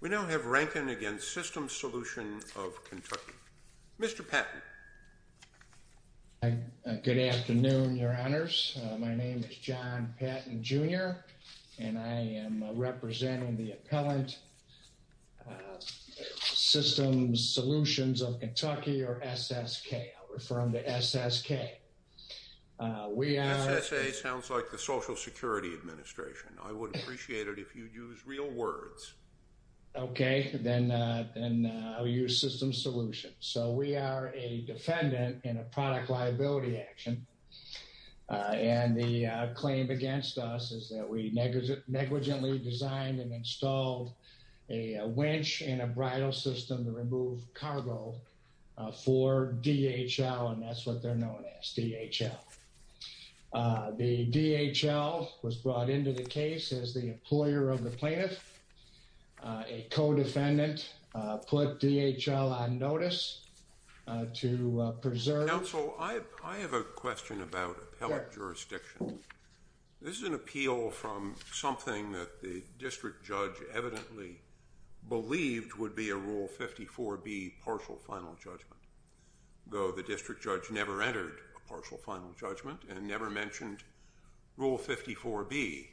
We don't have Rankin against System Solution of Kentucky. Mr. Patton. Good afternoon, Your Honors. My name is John Patton, Jr. and I am representing the appellant Systems Solutions of Kentucky or SSK. I'll refer him to SSK. SSA sounds like the Social Security Administration. I would Okay, then, then I'll use System Solutions. So we are a defendant in a product liability action. And the claim against us is that we negligently designed and installed a winch and a bridle system to remove cargo for DHL. And that's what they're known as DHL. The DHL was brought into the case as the employer of the plaintiff. A co-defendant put DHL on notice to preserve. Counsel, I have a question about appellate jurisdiction. This is an appeal from something that the district judge evidently believed would be a Rule 54B partial final judgment. Though the district judge never entered a partial final judgment and never mentioned Rule 54B,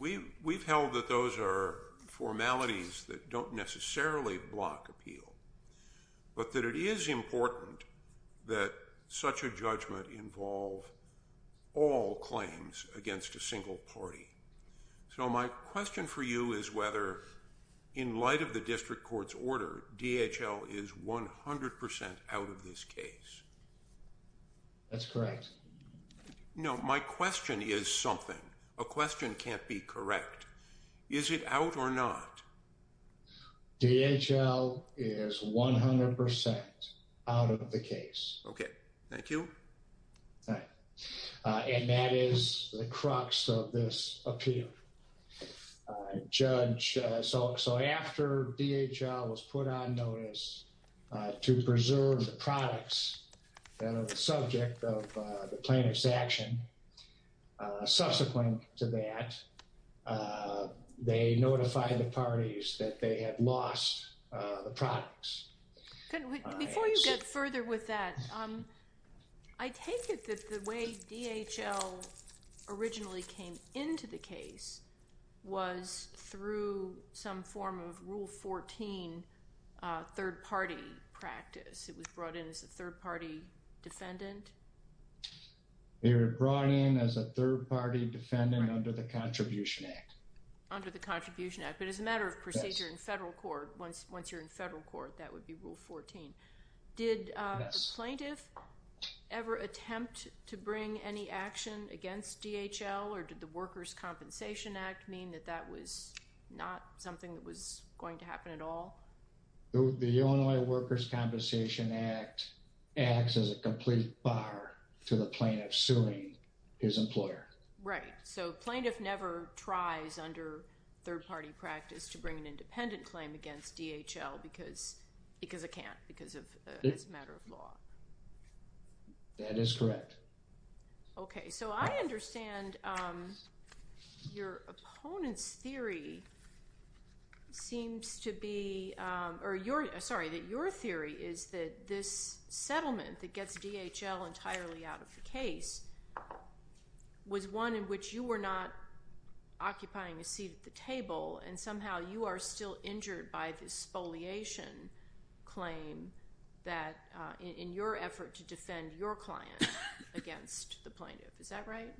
we've held that those are formalities that don't necessarily block appeal. But that it is important that such a judgment involve all claims against a single party. So my question for you is whether in light of the district court's order, DHL is 100% out of this case. That's correct. No, my question is something. A question can't be correct. Is it out or not? DHL is 100% out of the case. Okay, thank you. And that is the crux of this appeal. Judge, so after DHL was put on notice to preserve the products that are the subject of the plaintiff's action, subsequent to that, they notified the parties that they had lost the products. Before you get further with that, I take it that the way DHL originally came into the case was through some form of Rule 14 third-party practice. It was brought in as a third-party defendant? They were brought in as a third-party defendant under the Contribution Act. Under the Contribution Act. But as a matter of procedure in federal court, once you're in federal court, that would be Rule 14. Did the plaintiff ever attempt to bring any action against DHL or did the Workers' Compensation Act mean that that was not something that was going to happen at all? The Illinois Workers' Compensation Act acts as a complete bar to the plaintiff suing his employer. Right. So plaintiff never tries under third-party practice to bring an independent claim against DHL because a can't, because it's a matter of law. That is correct. Okay. So I understand your opponent's theory seems to be, or your, sorry, that your theory is that this settlement that gets DHL entirely out of the case was one in which you were not occupying a seat at the table and somehow you are still injured by this spoliation claim that in your effort to defend your client against the plaintiff. Is that right?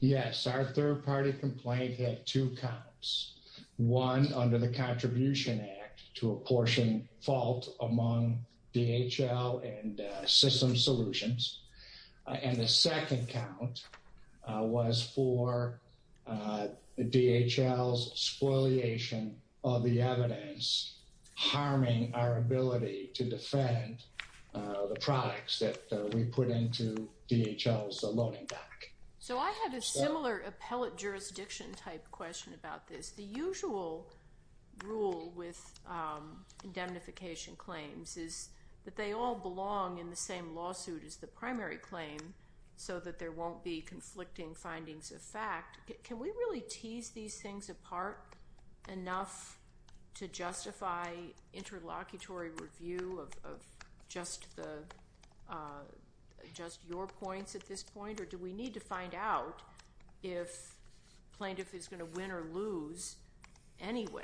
Yes. Our third-party complaint had two counts. One under the Contribution Act to apportion fault among DHL and Systems Solutions. And the second count was for DHL's spoliation of the evidence harming our ability to defend the products that we put into DHL's loaning bank. So I had a similar appellate jurisdiction type question about this. The usual rule with indemnification claims is that they all belong in the same lawsuit as the primary claim so that there won't be conflicting findings of fact. Can we really tease these things apart enough to justify interlocutory review of just the, just your points at this point? Or do we need to find out if the plaintiff is going to win or lose anyway?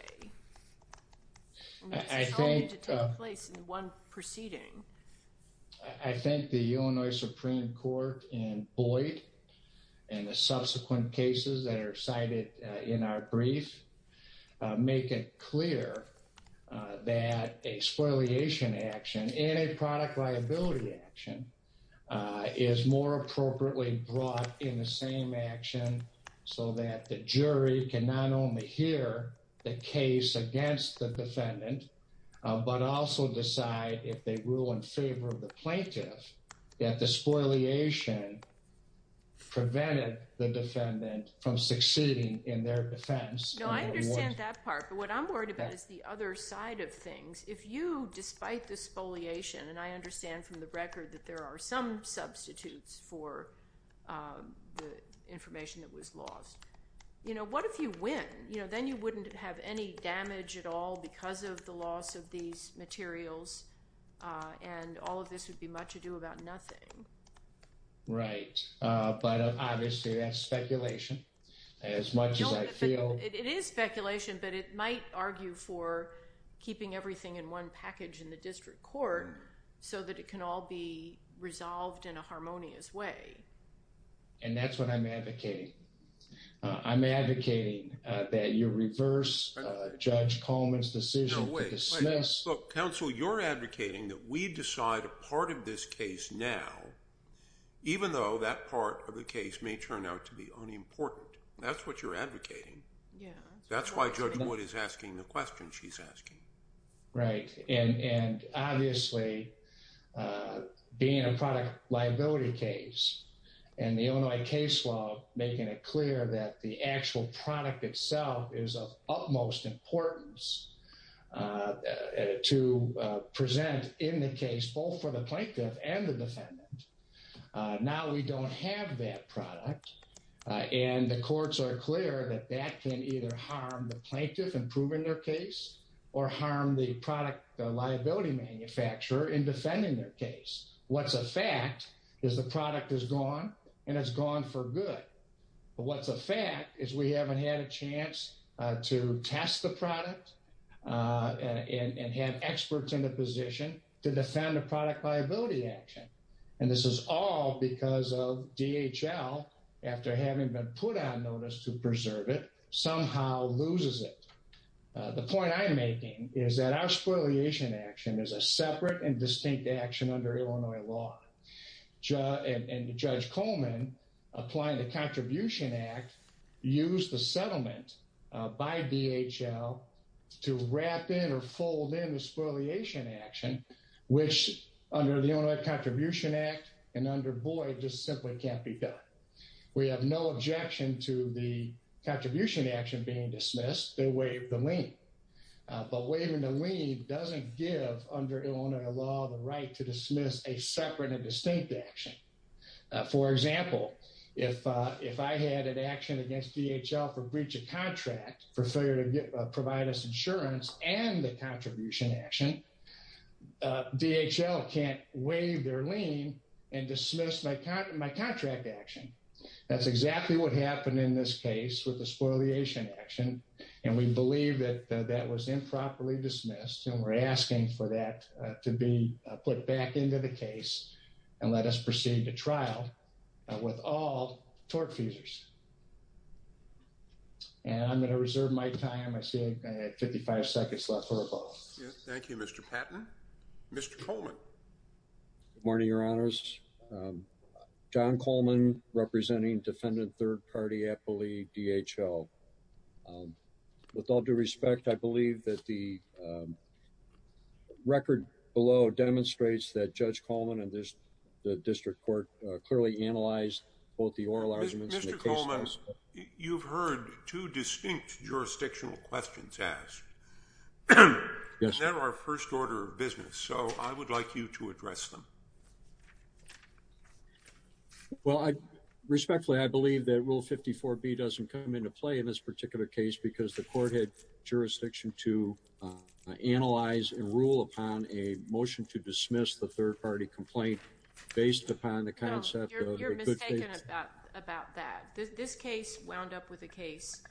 And just tell me to take place in one proceeding. I think the Illinois Supreme Court and Boyd and the subsequent cases that are cited in our brief make it clear that a spoliation action and a product liability action is more appropriately brought in the same action so that the jury can not only hear the case against the defendant but also decide if they rule in favor of the plaintiff that the spoliation prevented the defendant from succeeding in their defense. No, I understand that part. But what I'm worried about is the other side of things. If you, despite the spoliation, and I understand from the record that there are some substitutes for the information that was lost, you know, what if you win? You know, then you wouldn't have any damage at all because of the loss of these materials and all of this would be much ado about nothing. Right. But obviously that's speculation as much as I feel. It is speculation but it might argue for keeping everything in one package in the And that's what I'm advocating. I'm advocating that you reverse Judge Coleman's decision to dismiss. No, wait, wait. Look, counsel, you're advocating that we decide a part of this case now even though that part of the case may turn out to be unimportant. That's what you're advocating. That's why Judge Boyd is asking the question she's asking. Right. And obviously being a product liability case and the Illinois case law, making it clear that the actual product itself is of utmost importance to present in the case, both for the plaintiff and the defendant. Now we don't have that product and the courts are clear that that can either harm the plaintiff and prove in their case or harm the product liability manufacturer in defending their case. What's a fact is the product is gone and it's gone for good. But what's a fact is we haven't had a chance to test the product and have experts in the position to defend a product liability action. And this is all because of DHL, after having been put on notice to preserve it, somehow loses it. The point I'm making is that our spoliation action is a separate and distinct action under Illinois law. And Judge Coleman, applying the Contribution Act, used the settlement by DHL to wrap in or fold in the spoliation action, which under the Illinois Contribution Act and under Boyd just simply can't be done. We have no objection to the contribution action being dismissed and waive the lien. But waiving the lien doesn't give under Illinois law the right to dismiss a separate and distinct action. For example, if I had an action against DHL for breach of contract for failure to provide us insurance and the contribution action, DHL can't waive their lien and dismiss my contract action. That's exactly what happened in this case with the spoliation action. And we believe that that was improperly dismissed. And we're asking for that to be put back into the case and let us proceed to trial with all tort feasers. And I'm going to reserve my time. I see I have 55 seconds left for a vote. Thank you, Mr. Patton. Mr. Coleman. Good morning, Your Honors. My name is John Coleman representing Defendant Third Party Appellee DHL. With all due respect, I believe that the record below demonstrates that Judge Coleman and the District Court clearly analyzed both the oral arguments and the case files. Mr. Coleman, you've heard two distinct jurisdictional questions asked. Yes. And they're our first order of business, so I would like you to address them. Well, respectfully, I believe that Rule 54B doesn't come into play in this particular case because the court had jurisdiction to analyze and rule upon a motion to dismiss the third party complaint based upon the concept of a good case. No, you're mistaken about that. This case wound up with a case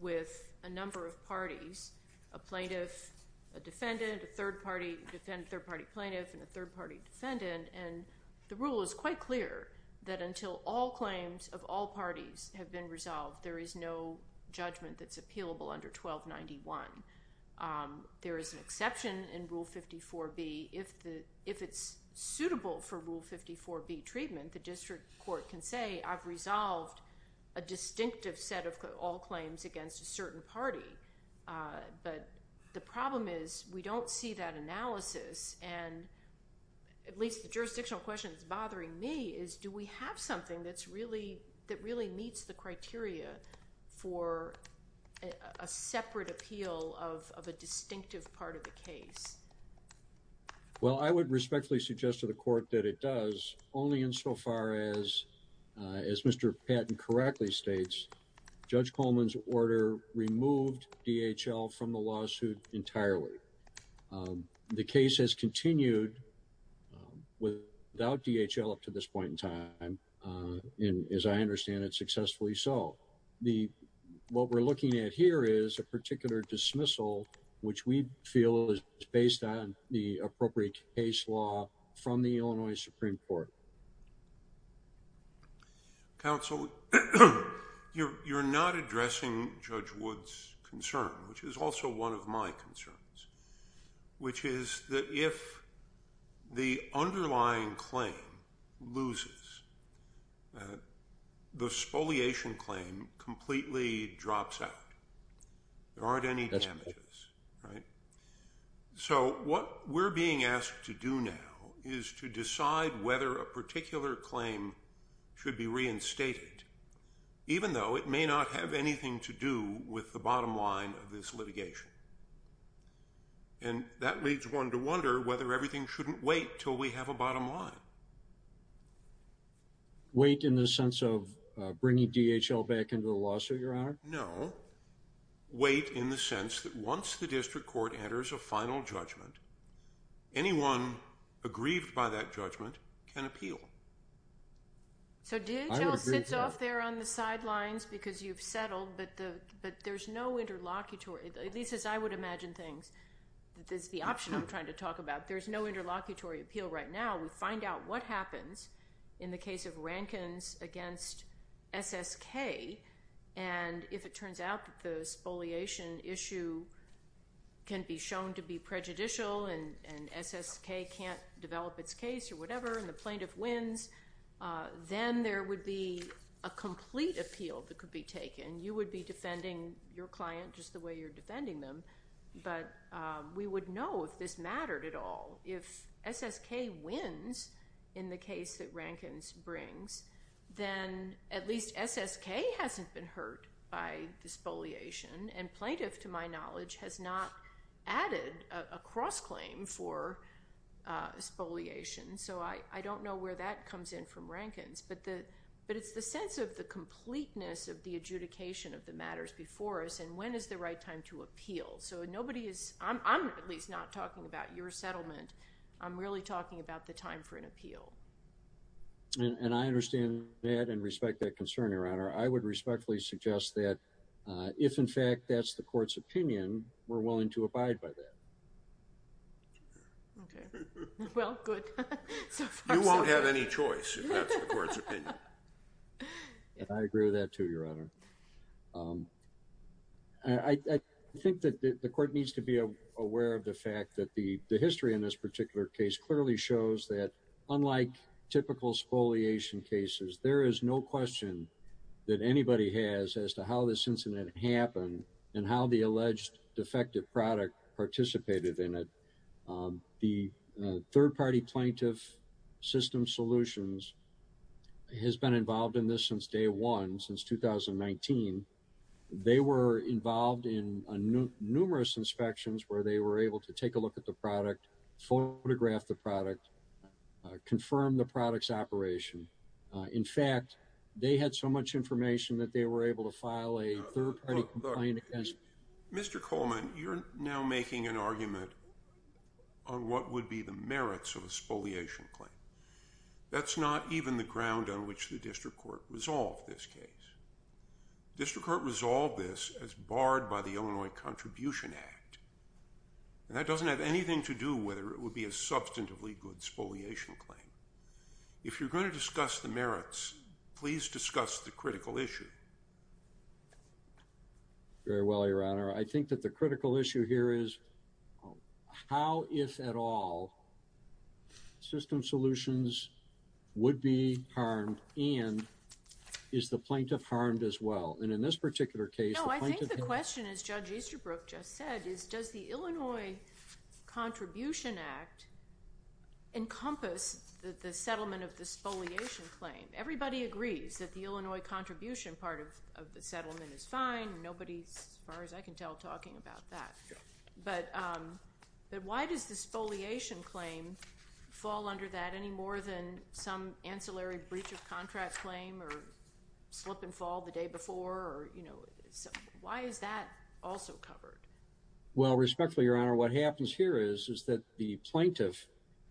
with a number of parties, a plaintiff, a defendant, a third party plaintiff, and a third party defendant. And the rule is quite clear that until all claims of all parties have been resolved, there is no judgment that's appealable under 1291. There is an exception in Rule 54B. If it's suitable for Rule 54B treatment, the District Court can say, I've resolved a distinctive set of all claims against a certain party. But the problem is we don't see that analysis. And at least the jurisdictional question that's bothering me is, do we have something that really meets the criteria for a separate appeal of a distinctive part of the case? Well, I would respectfully suggest to the court that it does only insofar as, as Mr. Patton correctly states, Judge Coleman's order removed DHL from the lawsuit entirely. The case has continued without DHL up to this point in time, and as I understand it, successfully so. What we're looking at here is a particular dismissal, which we feel is based on the appropriate case law from the Illinois Supreme Court. Counsel, you're not addressing Judge Wood's concern, which is also one of my concerns, which completely drops out. There aren't any damages, right? So what we're being asked to do now is to decide whether a particular claim should be reinstated, even though it may not have anything to do with the bottom line of this litigation. And that leads one to wonder whether everything shouldn't wait until we have a bottom line. Wait in the sense of bringing DHL back into the lawsuit, Your Honor? No. Wait in the sense that once the district court enters a final judgment, anyone aggrieved by that judgment can appeal. So DHL sits off there on the sidelines because you've settled, but there's no interlocutory, at least as I would imagine things. That's the option I'm trying to talk about. There's no interlocutory appeal right now. We find out what happens in the case of Rankin's against SSK, and if it turns out that the spoliation issue can be shown to be prejudicial and SSK can't develop its case or whatever and the plaintiff wins, then there would be a complete appeal that could be taken. You would be defending your client just the way you're defending them, but we would know if this mattered at all. If SSK wins in the case that Rankin brings, then at least SSK hasn't been hurt by the spoliation, and plaintiff, to my knowledge, has not added a cross-claim for spoliation. So I don't know where that comes in from Rankin's, but it's the sense of the completeness of the adjudication of the matters before us and when is the right time to appeal. I'm at least not talking about your settlement. I'm really talking about the time for an appeal. And I understand that and respect that concern, Your Honor. I would respectfully suggest that if, in fact, that's the court's opinion, we're willing to abide by that. Okay. Well, good. You won't have any choice if that's the court's opinion. I agree with that, too, Your Honor. I think that the court needs to be aware of the fact that the history in this particular case clearly shows that, unlike typical spoliation cases, there is no question that anybody has as to how this incident happened and how the alleged defective product participated in it. The third-party plaintiff system solutions has been involved in this since day one, since 2019. They were involved in numerous inspections where they were able to take a look at the product, photograph the product, confirm the product's operation. In fact, they had so much information that they were able to file a third-party complaint against. Mr. Coleman, you're now making an argument on what would be the merits of a spoliation claim. That's not even the ground on which the district court resolved this case. The district court resolved this as barred by the Illinois Contribution Act, and that doesn't have anything to do with whether it would be a substantively good spoliation claim. If you're going to discuss the merits, please discuss the critical issue. Very well, Your Honor. I think that the critical issue here is how, if at all, system solutions would be harmed, and is the plaintiff harmed as well? And in this particular case, the plaintiff has— No, I think the question, as Judge Easterbrook just said, is does the Illinois Contribution Act encompass the settlement of the spoliation claim? Everybody agrees that the Illinois Contribution part of the settlement is fine. Nobody, as far as I can tell, is talking about that. But why does the spoliation claim fall under that any more than some ancillary breach of contract claim or slip and fall the day before? Why is that also covered? Well, respectfully, Your Honor, what happens here is that the plaintiff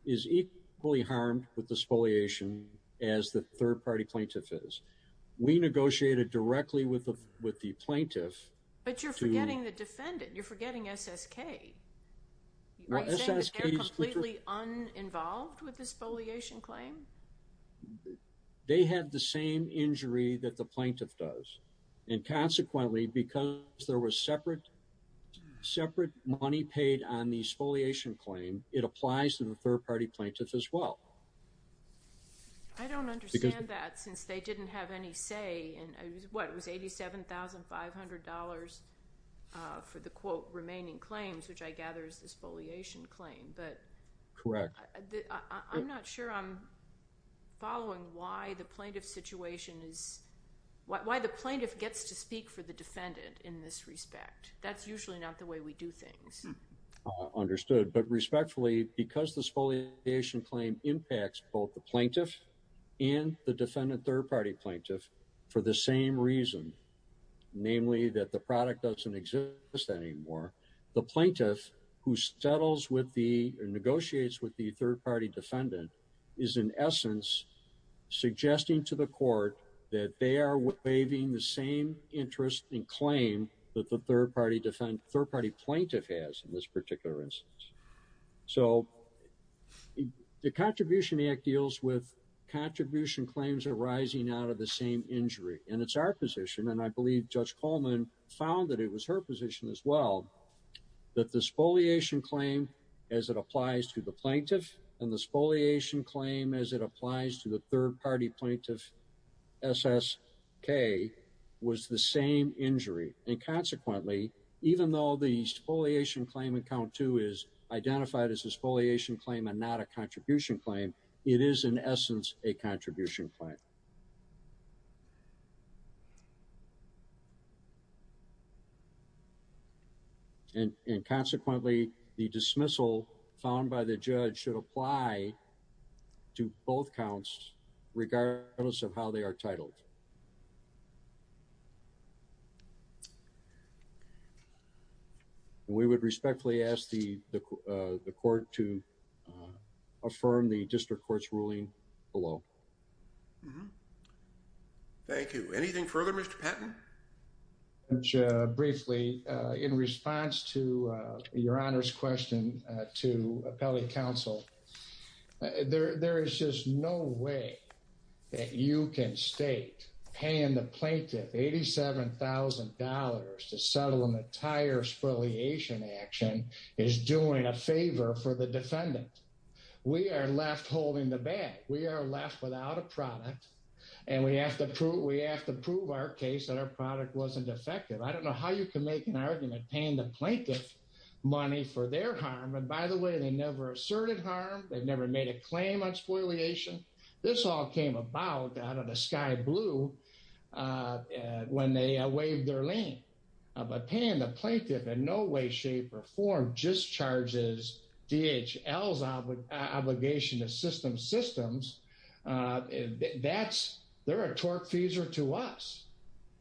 is equally harmed with the spoliation as the third-party plaintiff is. We negotiated directly with the plaintiff to— But you're forgetting the defendant. You're forgetting SSK. Are you saying that they're completely uninvolved with the spoliation claim? They had the same injury that the plaintiff does. And consequently, because there was separate money paid on the spoliation claim, it applies to the third-party plaintiff as well. I don't understand that since they didn't have any say. What, it was $87,500 for the, quote, remaining claims, which I gather is the spoliation claim. Correct. I'm not sure I'm following why the plaintiff situation is... why the plaintiff gets to speak for the defendant in this respect. That's usually not the way we do things. Understood. But respectfully, because the spoliation claim impacts both the plaintiff and the defendant third-party plaintiff for the same reason, namely that the product doesn't exist anymore, the plaintiff who settles with the— or negotiates with the third-party defendant is, in essence, suggesting to the court that they are waiving the same interest in claim that the third-party plaintiff has in this particular instance. So, the Contribution Act deals with contribution claims arising out of the same injury, and it's our position, and I believe Judge Coleman found that it was her position as well, that the spoliation claim, as it applies to the plaintiff, and the spoliation claim, as it applies to the third-party plaintiff, SSK, was the same injury. And consequently, even though the spoliation claim in Count 2 is identified as a spoliation claim and not a contribution claim, it is, in essence, a contribution claim. And consequently, the dismissal found by the judge should apply to both regardless of how they are titled. We would respectfully ask the court to affirm the district court's ruling below. Thank you. Anything further, Mr. Patton? Judge, briefly, in response to Your Honor's question to appellate counsel, there is just no way that you can state paying the plaintiff $87,000 to settle an entire spoliation action is doing a favor for the defendant. We are left holding the bag. We are left without a product, and we have to prove our case that our product wasn't effective. I don't know how you can make an argument paying the plaintiff money for their harm. And by the way, they never asserted harm. They never made a claim on spoliation. This all came about out of the sky blue when they waived their lien. But paying the plaintiff in no way, shape, or form discharges DHL's obligation to system systems, that's – they're a torque-feaser to us.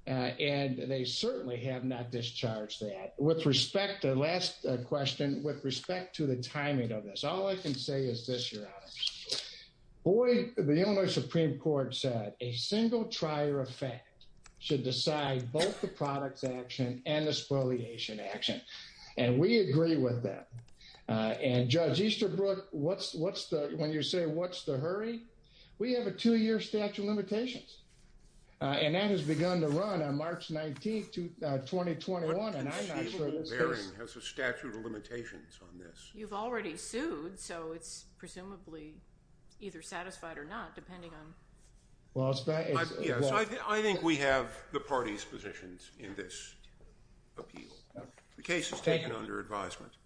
And they certainly have not discharged that. With respect to the last question, with respect to the timing of this, all I can say is this, Your Honor. The Illinois Supreme Court said a single trier effect should decide both the product's action and the spoliation action. And we agree with that. And Judge Easterbrook, when you say what's the hurry, we have a two-year statute of limitations. And that has begun to run on March 19th, 2021. And I'm not sure – What conceivable bearing has a statute of limitations on this? You've already sued, so it's presumably either satisfied or not, depending on – Well, it's – Yes, I think we have the parties' positions in this appeal. The case is taken under advisement.